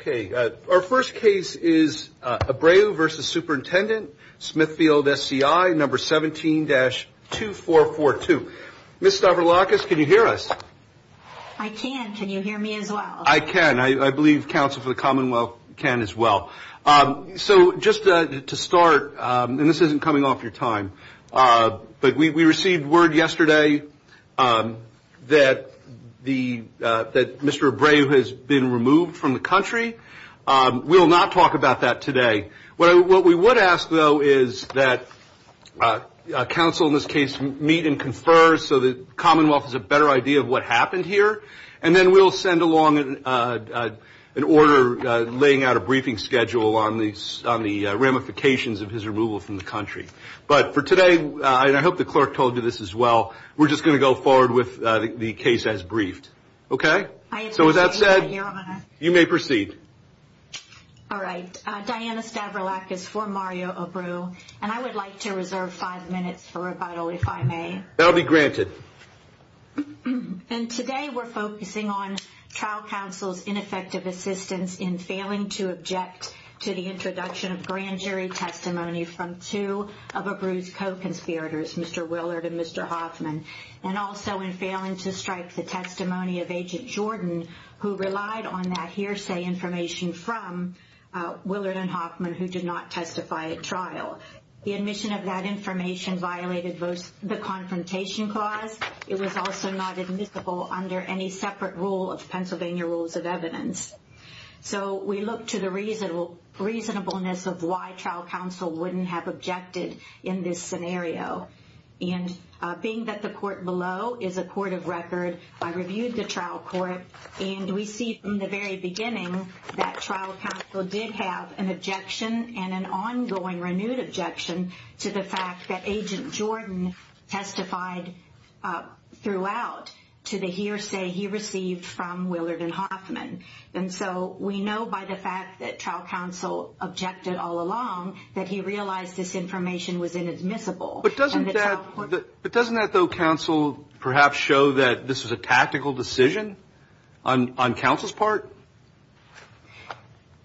Okay, our first case is Abreu v. Superintendent Smithfield SCI, number 17-2442. Ms. Stavroulakis, can you hear us? I can. Can you hear me as well? I can. I believe Council for the Commonwealth can as well. So just to start, and this isn't coming off your time, but we received word yesterday that Mr. Abreu has been removed from the country. We will not talk about that today. What we would ask, though, is that Council in this case meet and confer so the Commonwealth has a better idea of what happened here, and then we'll send along an order laying out a briefing schedule on the ramifications of his removal from the country. But for today, and I hope the clerk told you this as well, we're just going to go forward with the case as briefed. Okay? So with that said, you may proceed. All right. Diana Stavroulakis for Mario Abreu, and I would like to reserve five minutes for rebuttal, if I may. That will be granted. And today we're focusing on trial counsel's ineffective assistance in failing to object to the introduction of grand jury testimony from two of Abreu's co-conspirators, Mr. Willard and Mr. Hoffman, and also in failing to strike the testimony of Agent Jordan, who relied on that hearsay information from Willard and Hoffman, who did not testify at trial. The admission of that information violated both the confrontation clause. It was also not admissible under any separate rule of Pennsylvania rules of evidence. So we look to the reasonableness of why trial counsel wouldn't have objected in this scenario. And being that the court below is a court of record, I reviewed the trial court, and we see from the very beginning that trial counsel did have an objection and an ongoing renewed objection to the fact that Agent Jordan testified throughout to the hearsay he received from Willard and Hoffman. And so we know by the fact that trial counsel objected all along that he realized this information was inadmissible. But doesn't that, though, counsel perhaps show that this was a tactical decision on counsel's part?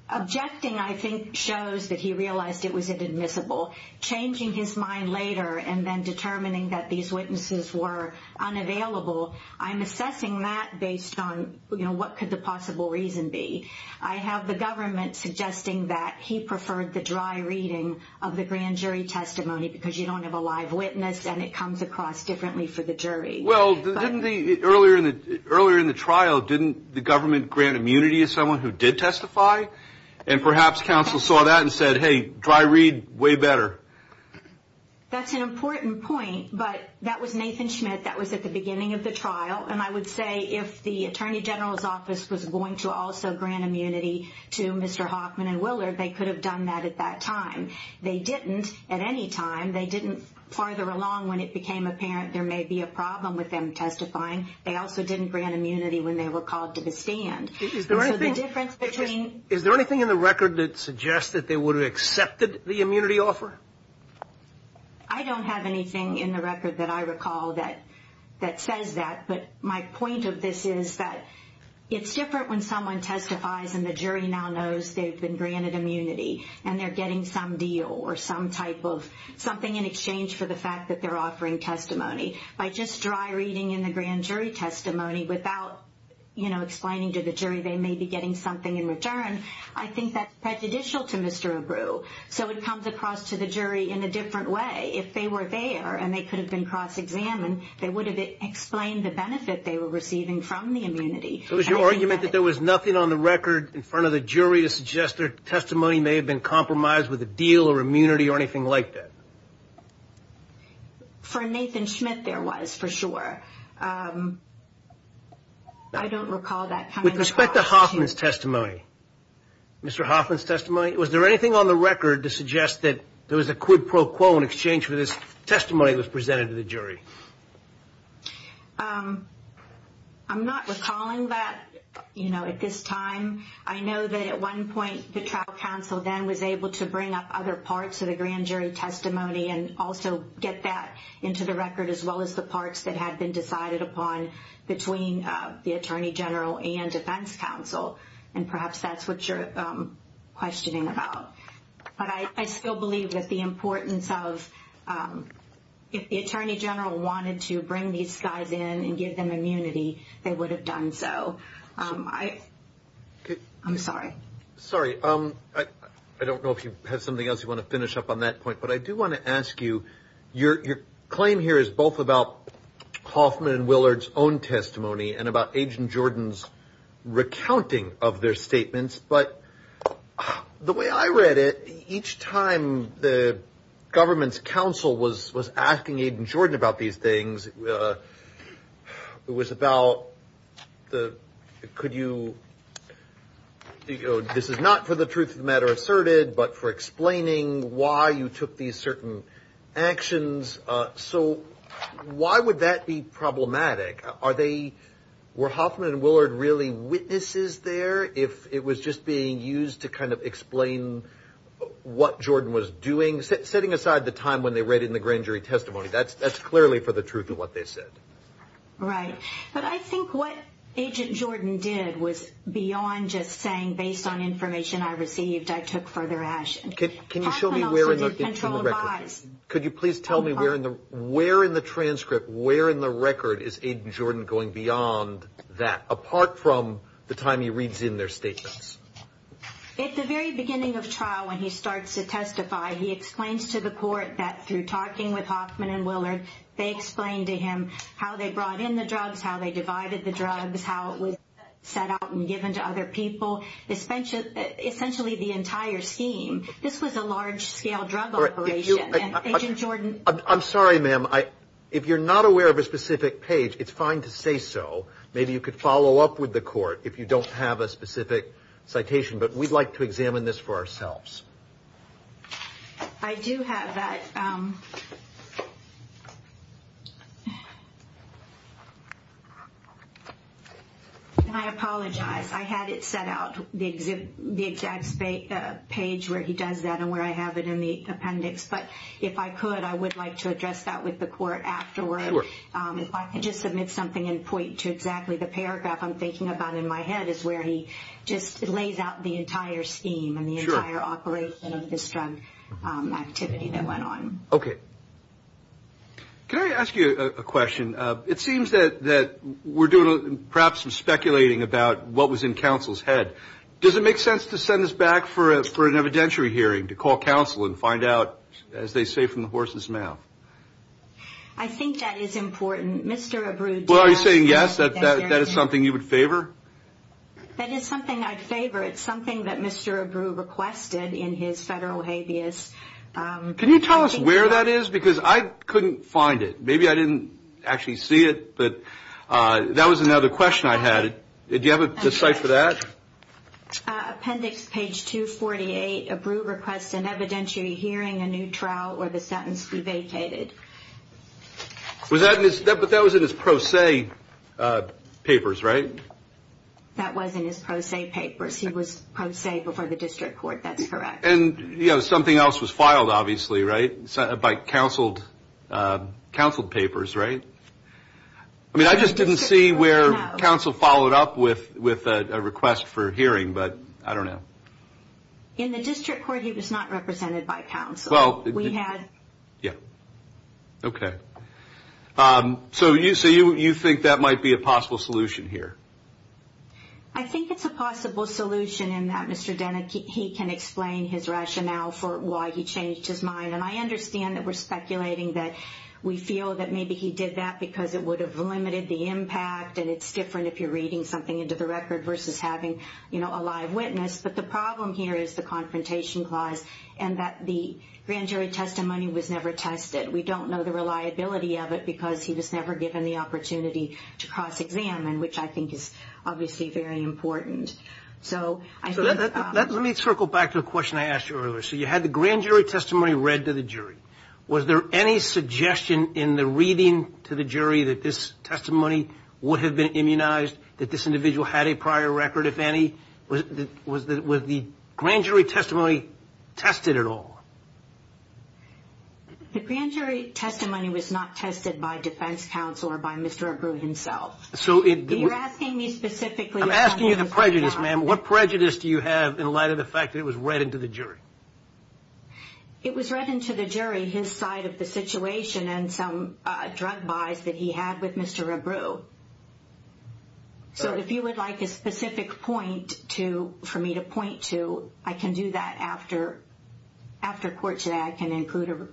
Objecting, I think, shows that he realized it was inadmissible. Changing his mind later and then determining that these witnesses were unavailable, I'm assessing that based on, you know, what could the possible reason be. I have the government suggesting that he preferred the dry reading of the grand jury testimony because you don't have a live witness and it comes across differently for the jury. Well, earlier in the trial, didn't the government grant immunity to someone who did testify? And perhaps counsel saw that and said, hey, dry read, way better. That's an important point, but that was Nathan Schmidt. That was at the beginning of the trial, and I would say if the attorney general's office was going to also grant immunity to Mr. Hoffman and Willard, they could have done that at that time. They didn't at any time. They didn't farther along when it became apparent there may be a problem with them testifying. They also didn't grant immunity when they were called to the stand. Is there anything in the record that suggests that they would have accepted the immunity offer? I don't have anything in the record that I recall that says that, but my point of this is that it's different when someone testifies and the jury now knows they've been granted immunity and they're getting some deal or some type of something in exchange for the fact that they're offering testimony. By just dry reading in the grand jury testimony without explaining to the jury they may be getting something in return, I think that's prejudicial to Mr. Abreu. So it comes across to the jury in a different way. If they were there and they could have been cross-examined, they would have explained the benefit they were receiving from the immunity. So is your argument that there was nothing on the record in front of the jury to suggest their testimony may have been compromised with a deal or immunity or anything like that? For Nathan Schmidt there was, for sure. I don't recall that coming across to you. With respect to Hoffman's testimony, Mr. Hoffman's testimony, was there anything on the record to suggest that there was a quid pro quo in exchange for this testimony that was presented to the jury? I'm not recalling that at this time. I know that at one point the trial counsel then was able to bring up other parts of the grand jury testimony and also get that into the record as well as the parts that had been decided upon between the attorney general and defense counsel, and perhaps that's what you're questioning about. But I still believe that the importance of if the attorney general wanted to bring these guys in and give them immunity, they would have done so. I'm sorry. Sorry. I don't know if you have something else you want to finish up on that point, but I do want to ask you, your claim here is both about Hoffman and Willard's own testimony and about Agent Jordan's recounting of their statements, but the way I read it, each time the government's counsel was asking Agent Jordan about these things, it was about could you, this is not for the truth of the matter asserted, but for explaining why you took these certain actions. So why would that be problematic? Were Hoffman and Willard really witnesses there if it was just being used to kind of explain what Jordan was doing? Setting aside the time when they read in the grand jury testimony, that's clearly for the truth of what they said. Right. But I think what Agent Jordan did was beyond just saying based on information I received, I took further action. Can you show me where in the transcript, where in the record is Agent Jordan going beyond that, apart from the time he reads in their statements? At the very beginning of trial when he starts to testify, he explains to the court that through talking with Hoffman and Willard, they explained to him how they brought in the drugs, how they divided the drugs, how it was set out and given to other people, essentially the entire scheme. This was a large scale drug operation. Agent Jordan. I'm sorry, ma'am. If you're not aware of a specific page, it's fine to say so. Maybe you could follow up with the court if you don't have a specific citation, but we'd like to examine this for ourselves. I do have that. And I apologize. I had it set out, the exact page where he does that and where I have it in the appendix. But if I could, I would like to address that with the court afterward. If I could just submit something and point to exactly the paragraph I'm thinking about in my head is where he just lays out the entire scheme and the entire operation of this drug activity that went on. Okay. Can I ask you a question? It seems that we're doing perhaps some speculating about what was in counsel's head. Does it make sense to send this back for an evidentiary hearing to call counsel and find out, as they say, from the horse's mouth? I think that is important. Well, are you saying yes, that that is something you would favor? That is something I'd favor. It's something that Mr. Abreu requested in his federal habeas. Can you tell us where that is? Because I couldn't find it. Maybe I didn't actually see it, but that was another question I had. Do you have a cite for that? Appendix page 248, Abreu requests an evidentiary hearing, a new trial, or the sentence be vacated. But that was in his pro se papers, right? That was in his pro se papers. He was pro se before the district court. That's correct. And something else was filed, obviously, right, by counseled papers, right? I mean, I just didn't see where counsel followed up with a request for hearing, but I don't know. In the district court, he was not represented by counsel. Yeah. Okay. So you think that might be a possible solution here? I think it's a possible solution in that Mr. Denecke, he can explain his rationale for why he changed his mind. And I understand that we're speculating that we feel that maybe he did that because it would have limited the impact and it's different if you're reading something into the record versus having, you know, a live witness. But the problem here is the confrontation clause and that the grand jury testimony was never tested. We don't know the reliability of it because he was never given the opportunity to cross-examine, which I think is obviously very important. So let me circle back to a question I asked you earlier. So you had the grand jury testimony read to the jury. Was there any suggestion in the reading to the jury that this testimony would have been immunized, that this individual had a prior record, if any? Was the grand jury testimony tested at all? The grand jury testimony was not tested by defense counsel or by Mr. Abreu himself. You're asking me specifically about Mr. Denecke. I'm asking you the prejudice, ma'am. What prejudice do you have in light of the fact that it was read into the jury? It was read into the jury, his side of the situation and some drug buys that he had with Mr. Abreu. So if you would like a specific point for me to point to, I can do that after court today. I can include or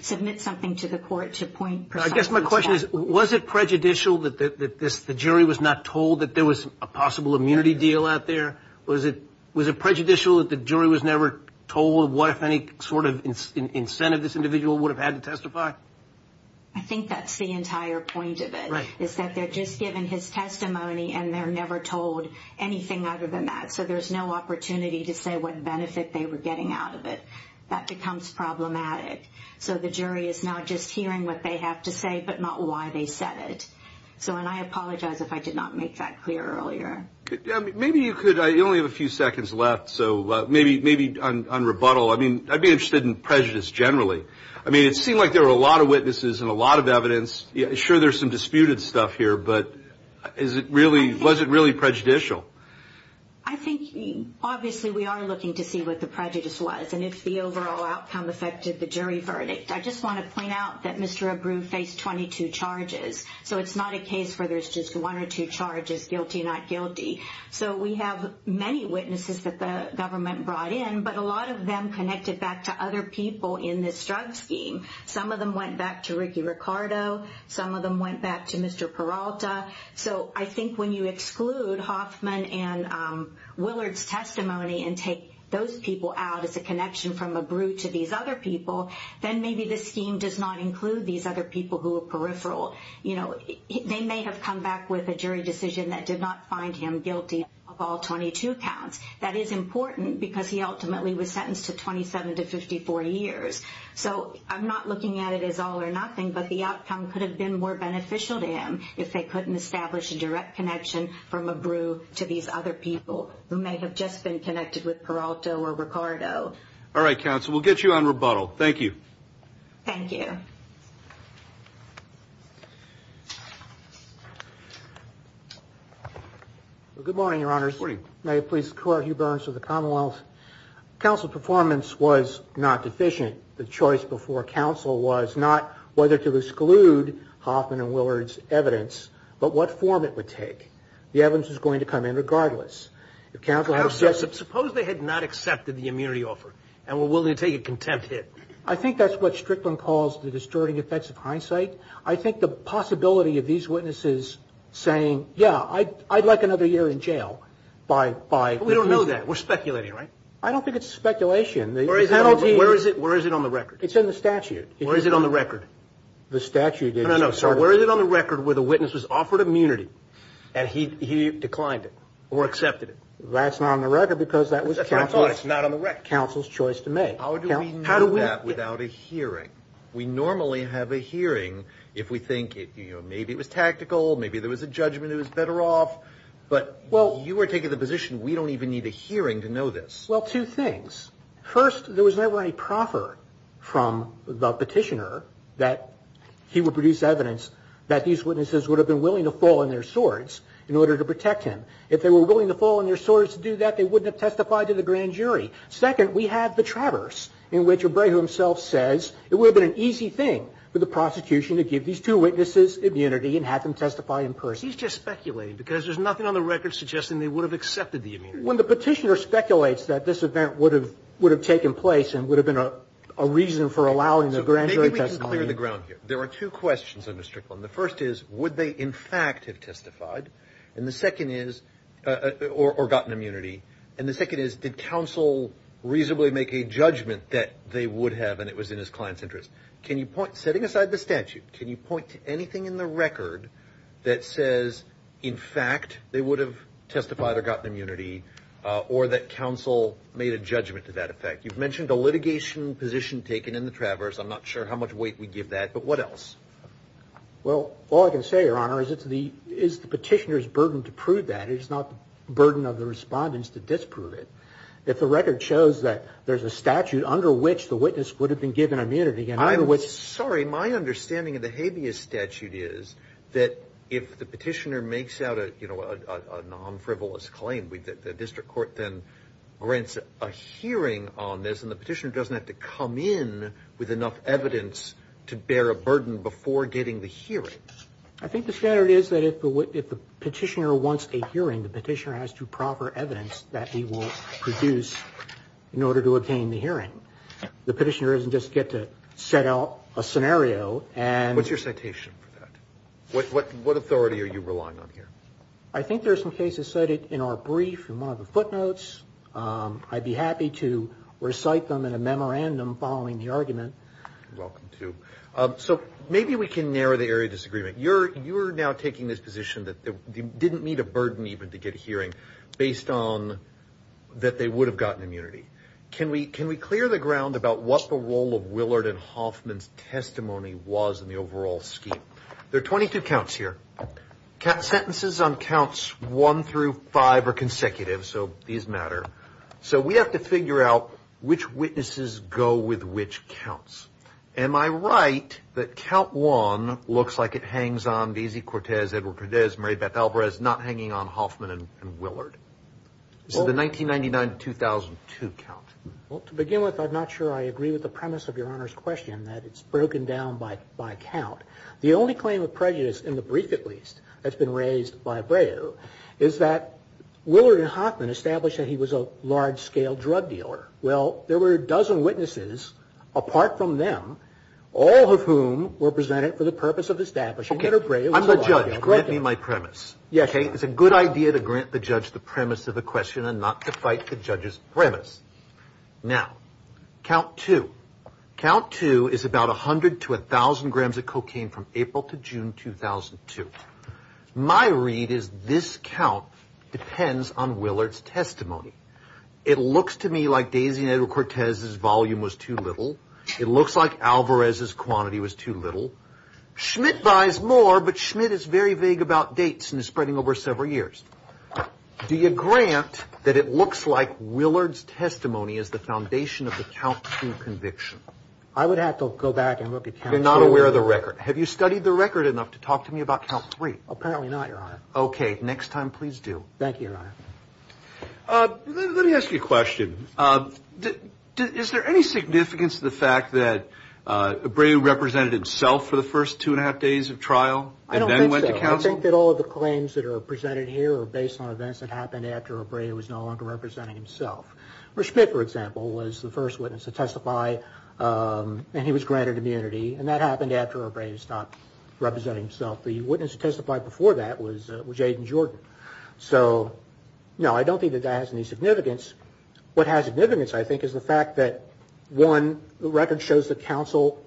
submit something to the court to point precisely to that. I guess my question is, was it prejudicial that the jury was not told that there was a possible immunity deal out there? Was it prejudicial that the jury was never told what, if any, sort of incentive this individual would have had to testify? I think that's the entire point of it. It's that they're just given his testimony and they're never told anything other than that. So there's no opportunity to say what benefit they were getting out of it. That becomes problematic. So the jury is not just hearing what they have to say but not why they said it. And I apologize if I did not make that clear earlier. Maybe you could. You only have a few seconds left. So maybe on rebuttal, I mean, I'd be interested in prejudice generally. I mean, it seemed like there were a lot of witnesses and a lot of evidence. Sure, there's some disputed stuff here, but was it really prejudicial? I think, obviously, we are looking to see what the prejudice was and if the overall outcome affected the jury verdict. I just want to point out that Mr. Abreu faced 22 charges. So it's not a case where there's just one or two charges, guilty, not guilty. So we have many witnesses that the government brought in, but a lot of them connected back to other people in this drug scheme. Some of them went back to Ricky Ricardo. Some of them went back to Mr. Peralta. So I think when you exclude Hoffman and Willard's testimony and take those people out as a connection from Abreu to these other people, then maybe this scheme does not include these other people who are peripheral. They may have come back with a jury decision that did not find him guilty of all 22 counts. That is important because he ultimately was sentenced to 27 to 54 years. So I'm not looking at it as all or nothing, but the outcome could have been more beneficial to him if they couldn't establish a direct connection from Abreu to these other people who may have just been connected with Peralta or Ricardo. All right, Counsel, we'll get you on rebuttal. Thank you. Thank you. Good morning, Your Honors. Good morning. May it please the Court, Hugh Burns of the Commonwealth. Counsel, performance was not deficient. The choice before counsel was not whether to exclude Hoffman and Willard's evidence, but what form it would take. The evidence is going to come in regardless. Suppose they had not accepted the immunity offer and were willing to take a contempt hit. I think that's what Strickland calls the distorting effects of hindsight. I think the possibility of these witnesses saying, yeah, I'd like another year in jail by the end of that. We're speculating, right? I don't think it's speculation. Where is it on the record? It's in the statute. Where is it on the record? The statute is. No, no, no. So where is it on the record where the witness was offered immunity and he declined it or accepted it? That's not on the record because that was counsel's choice to make. How do we know that without a hearing? We normally have a hearing if we think maybe it was tactical, maybe there was a judgment it was better off. But you are taking the position we don't even need a hearing to know this. Well, two things. First, there was never a proffer from the petitioner that he would produce evidence that these witnesses would have been willing to fall on their swords in order to protect him. If they were willing to fall on their swords to do that, they wouldn't have testified to the grand jury. Second, we have the traverse in which Obrego himself says it would have been an easy thing for the prosecution to give these two witnesses immunity and have them testify in person. He's just speculating because there's nothing on the record suggesting they would have accepted the immunity. When the petitioner speculates that this event would have taken place and would have been a reason for allowing the grand jury testimony. Maybe we can clear the ground here. There are two questions on this, Strickland. The first is, would they in fact have testified? And the second is, or gotten immunity? And the second is, did counsel reasonably make a judgment that they would have and it was in his client's interest? Setting aside the statute, can you point to anything in the record that says in fact they would have testified or gotten immunity or that counsel made a judgment to that effect? You've mentioned the litigation position taken in the traverse. I'm not sure how much weight we give that, but what else? Well, all I can say, Your Honor, is it's the petitioner's burden to prove that. It's not the burden of the respondents to disprove it. If the record shows that there's a statute under which the witness would have been given immunity. I'm sorry. My understanding of the habeas statute is that if the petitioner makes out a non-frivolous claim, the district court then grants a hearing on this, and the petitioner doesn't have to come in with enough evidence to bear a burden before getting the hearing. I think the standard is that if the petitioner wants a hearing, the petitioner has to proffer evidence that he will produce in order to obtain the hearing. The petitioner doesn't just get to set out a scenario and... What's your citation for that? What authority are you relying on here? I think there are some cases cited in our brief in one of the footnotes. I'd be happy to recite them in a memorandum following the argument. You're welcome to. Maybe we can narrow the area of disagreement. You're now taking this position that they didn't need a burden even to get a hearing based on that they would have gotten immunity. Can we clear the ground about what the role of Willard and Hoffman's testimony was in the overall scheme? There are 22 counts here. Sentences on counts one through five are consecutive, so these matter. We have to figure out which witnesses go with which counts. Am I right that count one looks like it hangs on Deasy Cortez, Edward Cordes, Mary Beth Alvarez, not hanging on Hoffman and Willard? This is the 1999-2002 count. Well, to begin with, I'm not sure I agree with the premise of Your Honor's question that it's broken down by count. The only claim of prejudice in the brief, at least, that's been raised by Breyer is that Willard and Hoffman established that he was a large-scale drug dealer. Well, there were a dozen witnesses, apart from them, all of whom were presented for the purpose of establishing that a drug dealer was a large-scale drug dealer. I'm the judge. Grant me my premise. Yes, Your Honor. It's a good idea to grant the judge the premise of the question and not to fight the judge's premise. Now, count two. Count two is about 100 to 1,000 grams of cocaine from April to June 2002. My read is this count depends on Willard's testimony. It looks to me like Daisy and Edward Cortez's volume was too little. It looks like Alvarez's quantity was too little. Schmidt buys more, but Schmidt is very vague about dates and is spreading over several years. Do you grant that it looks like Willard's testimony is the foundation of the count two conviction? I would have to go back and look at count three. You're not aware of the record. Have you studied the record enough to talk to me about count three? Apparently not, Your Honor. Okay. Next time, please do. Thank you, Your Honor. Let me ask you a question. Is there any significance to the fact that Abreu represented himself for the first two and a half days of trial and then went to counsel? I don't think so. I think that all of the claims that are presented here are based on events that happened after Abreu was no longer representing himself. Schmidt, for example, was the first witness to testify, and he was granted immunity, and that happened after Abreu stopped representing himself. The witness who testified before that was Jaden Jordan. So, no, I don't think that that has any significance. What has significance, I think, is the fact that, one, the record shows that counsel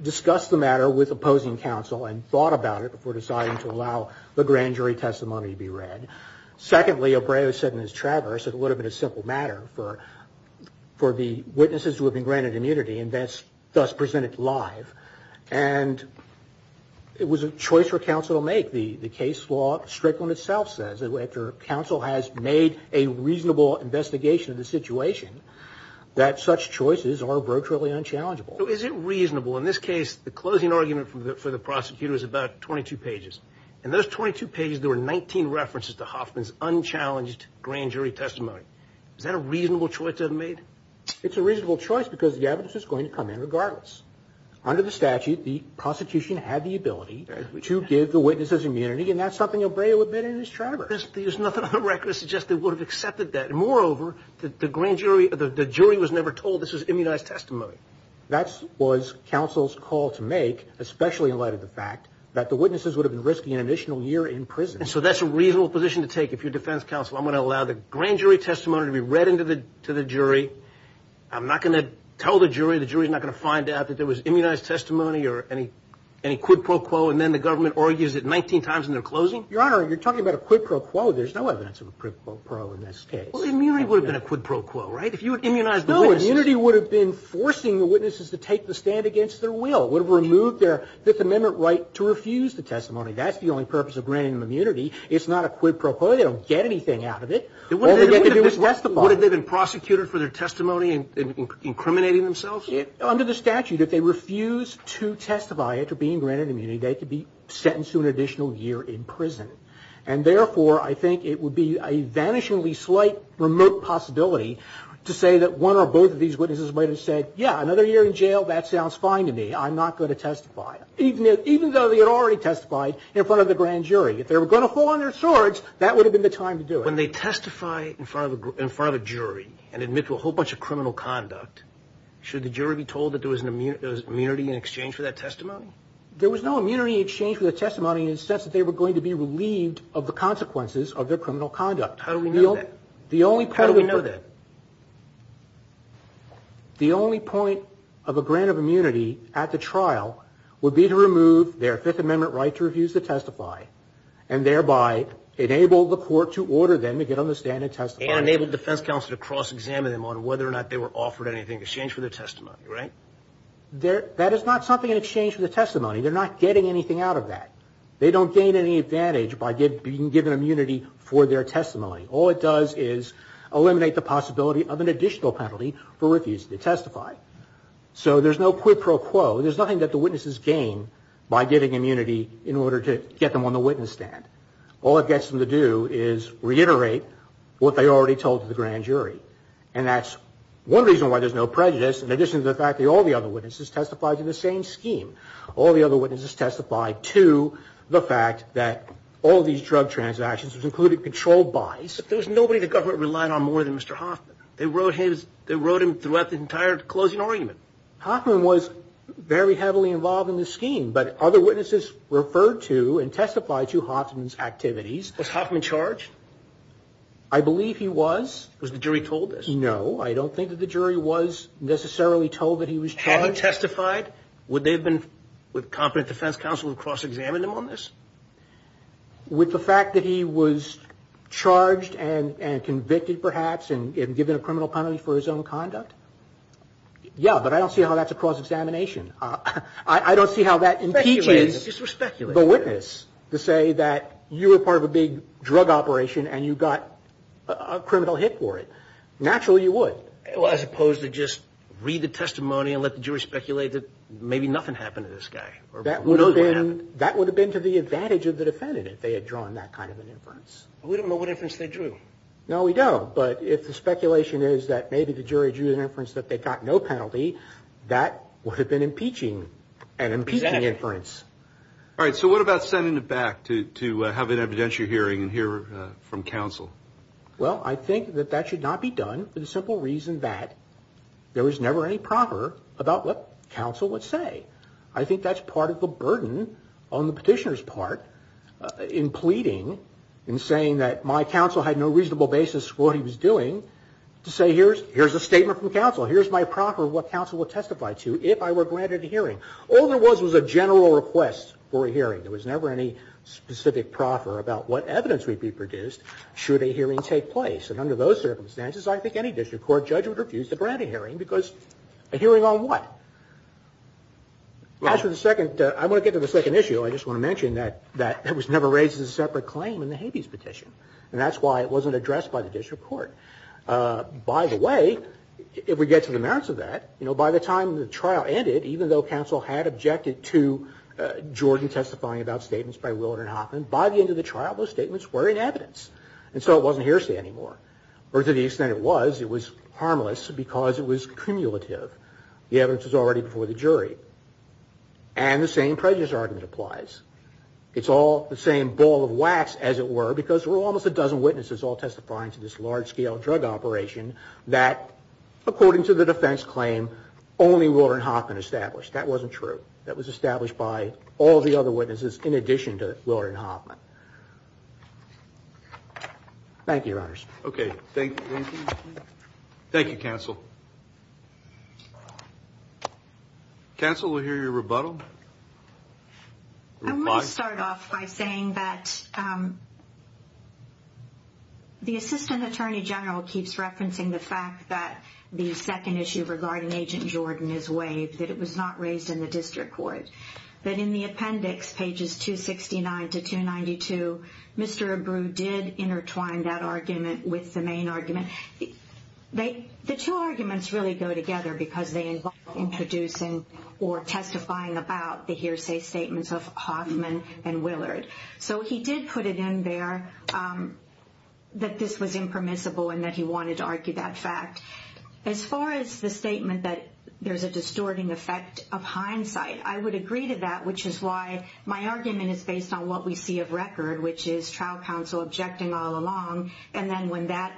discussed the matter with opposing counsel and thought about it before deciding to allow the grand jury testimony to be read. Secondly, Abreu said in his traverse that it would have been a simple matter for the witnesses who had been granted immunity and thus present it live, and it was a choice for counsel to make. The case law, Strickland itself says, after counsel has made a reasonable investigation of the situation, that such choices are virtually unchallengeable. So is it reasonable? In this case, the closing argument for the prosecutor is about 22 pages. In those 22 pages, there were 19 references to Hoffman's unchallenged grand jury testimony. Is that a reasonable choice to have made? It's a reasonable choice because the evidence is going to come in regardless. Under the statute, the prosecution had the ability to give the witnesses immunity, and that's something Abreu admitted in his traverse. There's nothing on the record that suggests they would have accepted that. Moreover, the jury was never told this was immunized testimony. That was counsel's call to make, especially in light of the fact that the witnesses would have been risking an additional year in prison. And so that's a reasonable position to take. If you're defense counsel, I'm going to allow the grand jury testimony to be read to the jury. I'm not going to tell the jury the jury's not going to find out that there was immunized testimony or any quid pro quo, and then the government argues it 19 times in their closing? Your Honor, you're talking about a quid pro quo. There's no evidence of a quid pro quo in this case. Well, immunity would have been a quid pro quo, right? If you had immunized the witnesses. No, immunity would have been forcing the witnesses to take the stand against their will. It would have removed their Fifth Amendment right to refuse the testimony. That's the only purpose of granting them immunity. It's not a quid pro quo. They don't get anything out of it. All they get to do is testify. Would they have been prosecuted for their testimony and incriminating themselves? Under the statute, if they refuse to testify after being granted immunity, they could be sentenced to an additional year in prison. And therefore, I think it would be a vanishingly slight remote possibility to say that one or both of these witnesses might have said, yeah, another year in jail, that sounds fine to me. I'm not going to testify. Even though they had already testified in front of the grand jury. If they were going to fall on their swords, that would have been the time to do it. When they testify in front of a jury and admit to a whole bunch of criminal conduct, should the jury be told that there was immunity in exchange for that testimony? There was no immunity in exchange for the testimony in the sense that they were going to be relieved of the consequences of their criminal conduct. How do we know that? How do we know that? The only point of a grant of immunity at the trial would be to remove their Fifth Amendment right to refuse to testify and thereby enable the court to order them to get on the stand and testify. And enable defense counsel to cross-examine them on whether or not they were offered anything in exchange for their testimony, right? That is not something in exchange for the testimony. They're not getting anything out of that. They don't gain any advantage by being given immunity for their testimony. All it does is eliminate the possibility of an additional penalty for refusing to testify. So there's no quid pro quo. There's nothing that the witnesses gain by getting immunity in order to get them on the witness stand. All it gets them to do is reiterate what they already told the grand jury. And that's one reason why there's no prejudice, in addition to the fact that all the other witnesses testified to the same scheme. All the other witnesses testified to the fact that all these drug transactions included controlled buys. But there was nobody the government relied on more than Mr. Hoffman. They wrote him throughout the entire closing argument. Hoffman was very heavily involved in the scheme. But other witnesses referred to and testified to Hoffman's activities. Was Hoffman charged? I believe he was. Was the jury told this? No, I don't think that the jury was necessarily told that he was charged. Had he testified, would they have been with competent defense counsel to cross-examine him on this? With the fact that he was charged and convicted, perhaps, and given a criminal penalty for his own conduct? Yeah, but I don't see how that's a cross-examination. I don't see how that impeaches the witness to say that you were part of a big drug operation and you got a criminal hit for it. Naturally, you would. As opposed to just read the testimony and let the jury speculate that maybe nothing happened to this guy. That would have been to the advantage of the defendant if they had drawn that kind of an inference. We don't know what inference they drew. No, we don't. But if the speculation is that maybe the jury drew an inference that they got no penalty, that would have been an impeaching inference. All right, so what about sending it back to have an evidentiary hearing and hear from counsel? Well, I think that that should not be done for the simple reason that there was never any proverb about what counsel would say. I think that's part of the burden on the petitioner's part in pleading and saying that my counsel had no reasonable basis for what he was doing to say here's a statement from counsel, here's my proffer of what counsel would testify to if I were granted a hearing. All there was was a general request for a hearing. There was never any specific proffer about what evidence would be produced should a hearing take place. And under those circumstances, I think any district court judge would refuse to grant a hearing because a hearing on what? I want to get to the second issue. I just want to mention that it was never raised as a separate claim in the Habeas petition. And that's why it wasn't addressed by the district court. By the way, if we get to the merits of that, you know, by the time the trial ended, even though counsel had objected to Jordan testifying about statements by Willard and Hoffman, by the end of the trial, those statements were in evidence. And so it wasn't hearsay anymore. Or to the extent it was, it was harmless because it was cumulative. The evidence was already before the jury. And the same prejudice argument applies. It's all the same ball of wax, as it were, because there were almost a dozen witnesses all testifying to this large-scale drug operation that, according to the defense claim, only Willard and Hoffman established. That wasn't true. That was established by all the other witnesses in addition to Willard and Hoffman. Thank you, Your Honors. Okay. Thank you, counsel. Counsel, we'll hear your rebuttal. I want to start off by saying that the assistant attorney general keeps referencing the fact that the second issue regarding Agent Jordan is waived, that it was not raised in the district court, that in the appendix, pages 269 to 292, Mr. Abreu did intertwine that argument with the main argument. The two arguments really go together because they involve introducing or testifying about the hearsay statements of Hoffman and Willard. So he did put it in there that this was impermissible and that he wanted to argue that fact. As far as the statement that there's a distorting effect of hindsight, I would agree to that, which is why my argument is based on what we see of record, which is trial counsel objecting all along, and then when that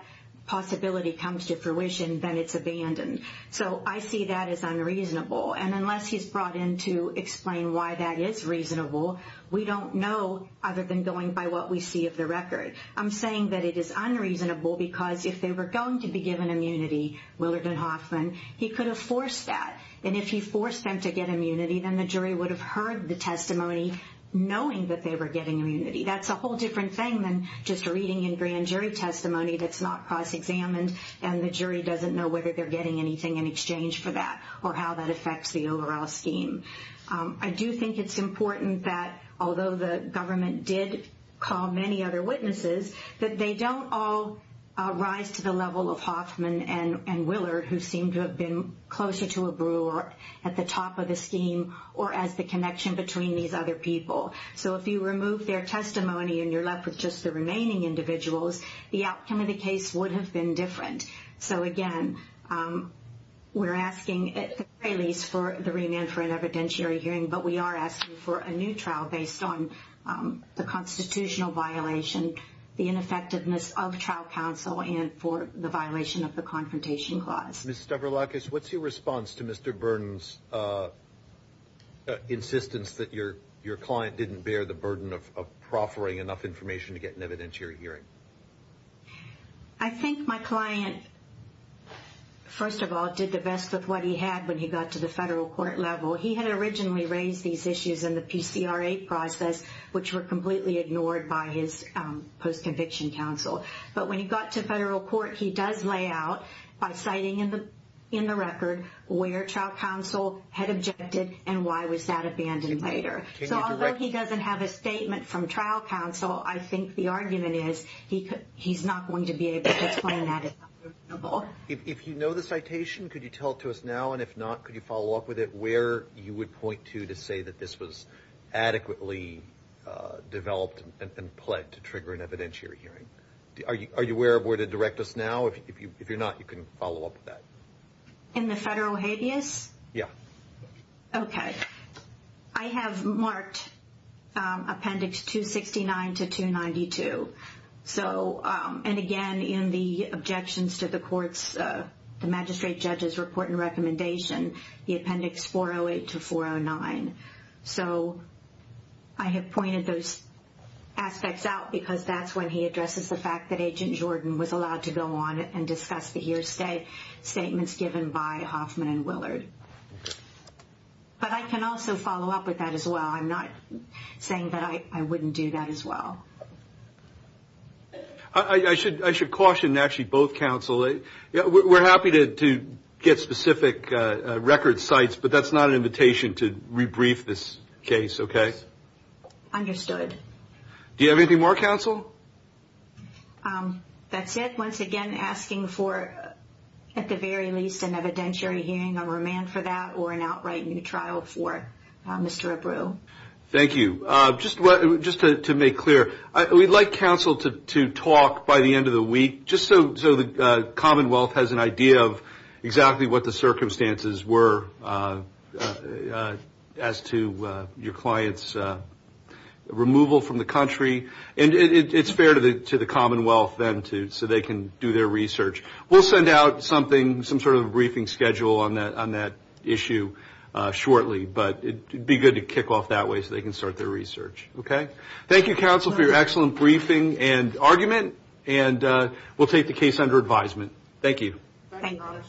possibility comes to fruition, then it's abandoned. So I see that as unreasonable, and unless he's brought in to explain why that is reasonable, we don't know other than going by what we see of the record. I'm saying that it is unreasonable because if they were going to be given immunity, Willard and Hoffman, he could have forced that. And if he forced them to get immunity, then the jury would have heard the testimony knowing that they were getting immunity. That's a whole different thing than just reading in grand jury testimony that's not cross-examined and the jury doesn't know whether they're getting anything in exchange for that or how that affects the overall scheme. I do think it's important that, although the government did call many other witnesses, that they don't all rise to the level of Hoffman and Willard, who seem to have been closer to a brewer at the top of the scheme or as the connection between these other people. So if you remove their testimony and you're left with just the remaining individuals, the outcome of the case would have been different. So, again, we're asking at least for the remand for an evidentiary hearing, but we are asking for a new trial based on the constitutional violation, the ineffectiveness of trial counsel, and for the violation of the Confrontation Clause. Ms. Stavroulakis, what's your response to Mr. Burns' insistence that your client didn't bear the burden of proffering enough information to get an evidentiary hearing? I think my client, first of all, did the best with what he had when he got to the federal court level. He had originally raised these issues in the PCRA process, which were completely ignored by his post-conviction counsel. But when he got to federal court, he does lay out, by citing in the record, where trial counsel had objected and why was that abandoned later. So although he doesn't have a statement from trial counsel, I think the argument is he's not going to be able to explain that. If you know the citation, could you tell it to us now? And if not, could you follow up with it where you would point to to say that this was adequately developed and pled to trigger an evidentiary hearing? Are you aware of where to direct us now? If you're not, you can follow up with that. In the federal habeas? Yeah. Okay. I have marked appendix 269 to 292. So, and again, in the objections to the court's, the magistrate judge's report and recommendation, the appendix 408 to 409. So I have pointed those aspects out because that's when he addresses the fact that Agent Jordan was allowed to go on and discuss the hearsay statements given by Hoffman and Willard. But I can also follow up with that as well. I'm not saying that I wouldn't do that as well. I should caution, actually, both counsel. We're happy to get specific record sites, but that's not an invitation to rebrief this case, okay? Understood. Do you have anything more, counsel? That's it. Once again, asking for, at the very least, an evidentiary hearing, a remand for that, or an outright new trial for Mr. Abreu. Thank you. Just to make clear, we'd like counsel to talk by the end of the week, just so the Commonwealth has an idea of exactly what the circumstances were as to your client's removal from the country. And it's fair to the Commonwealth then, too, so they can do their research. We'll send out something, some sort of briefing schedule on that issue shortly, but it would be good to kick off that way so they can start their research, okay? Thank you, counsel, for your excellent briefing and argument, and we'll take the case under advisement. Thank you. Thank you very much.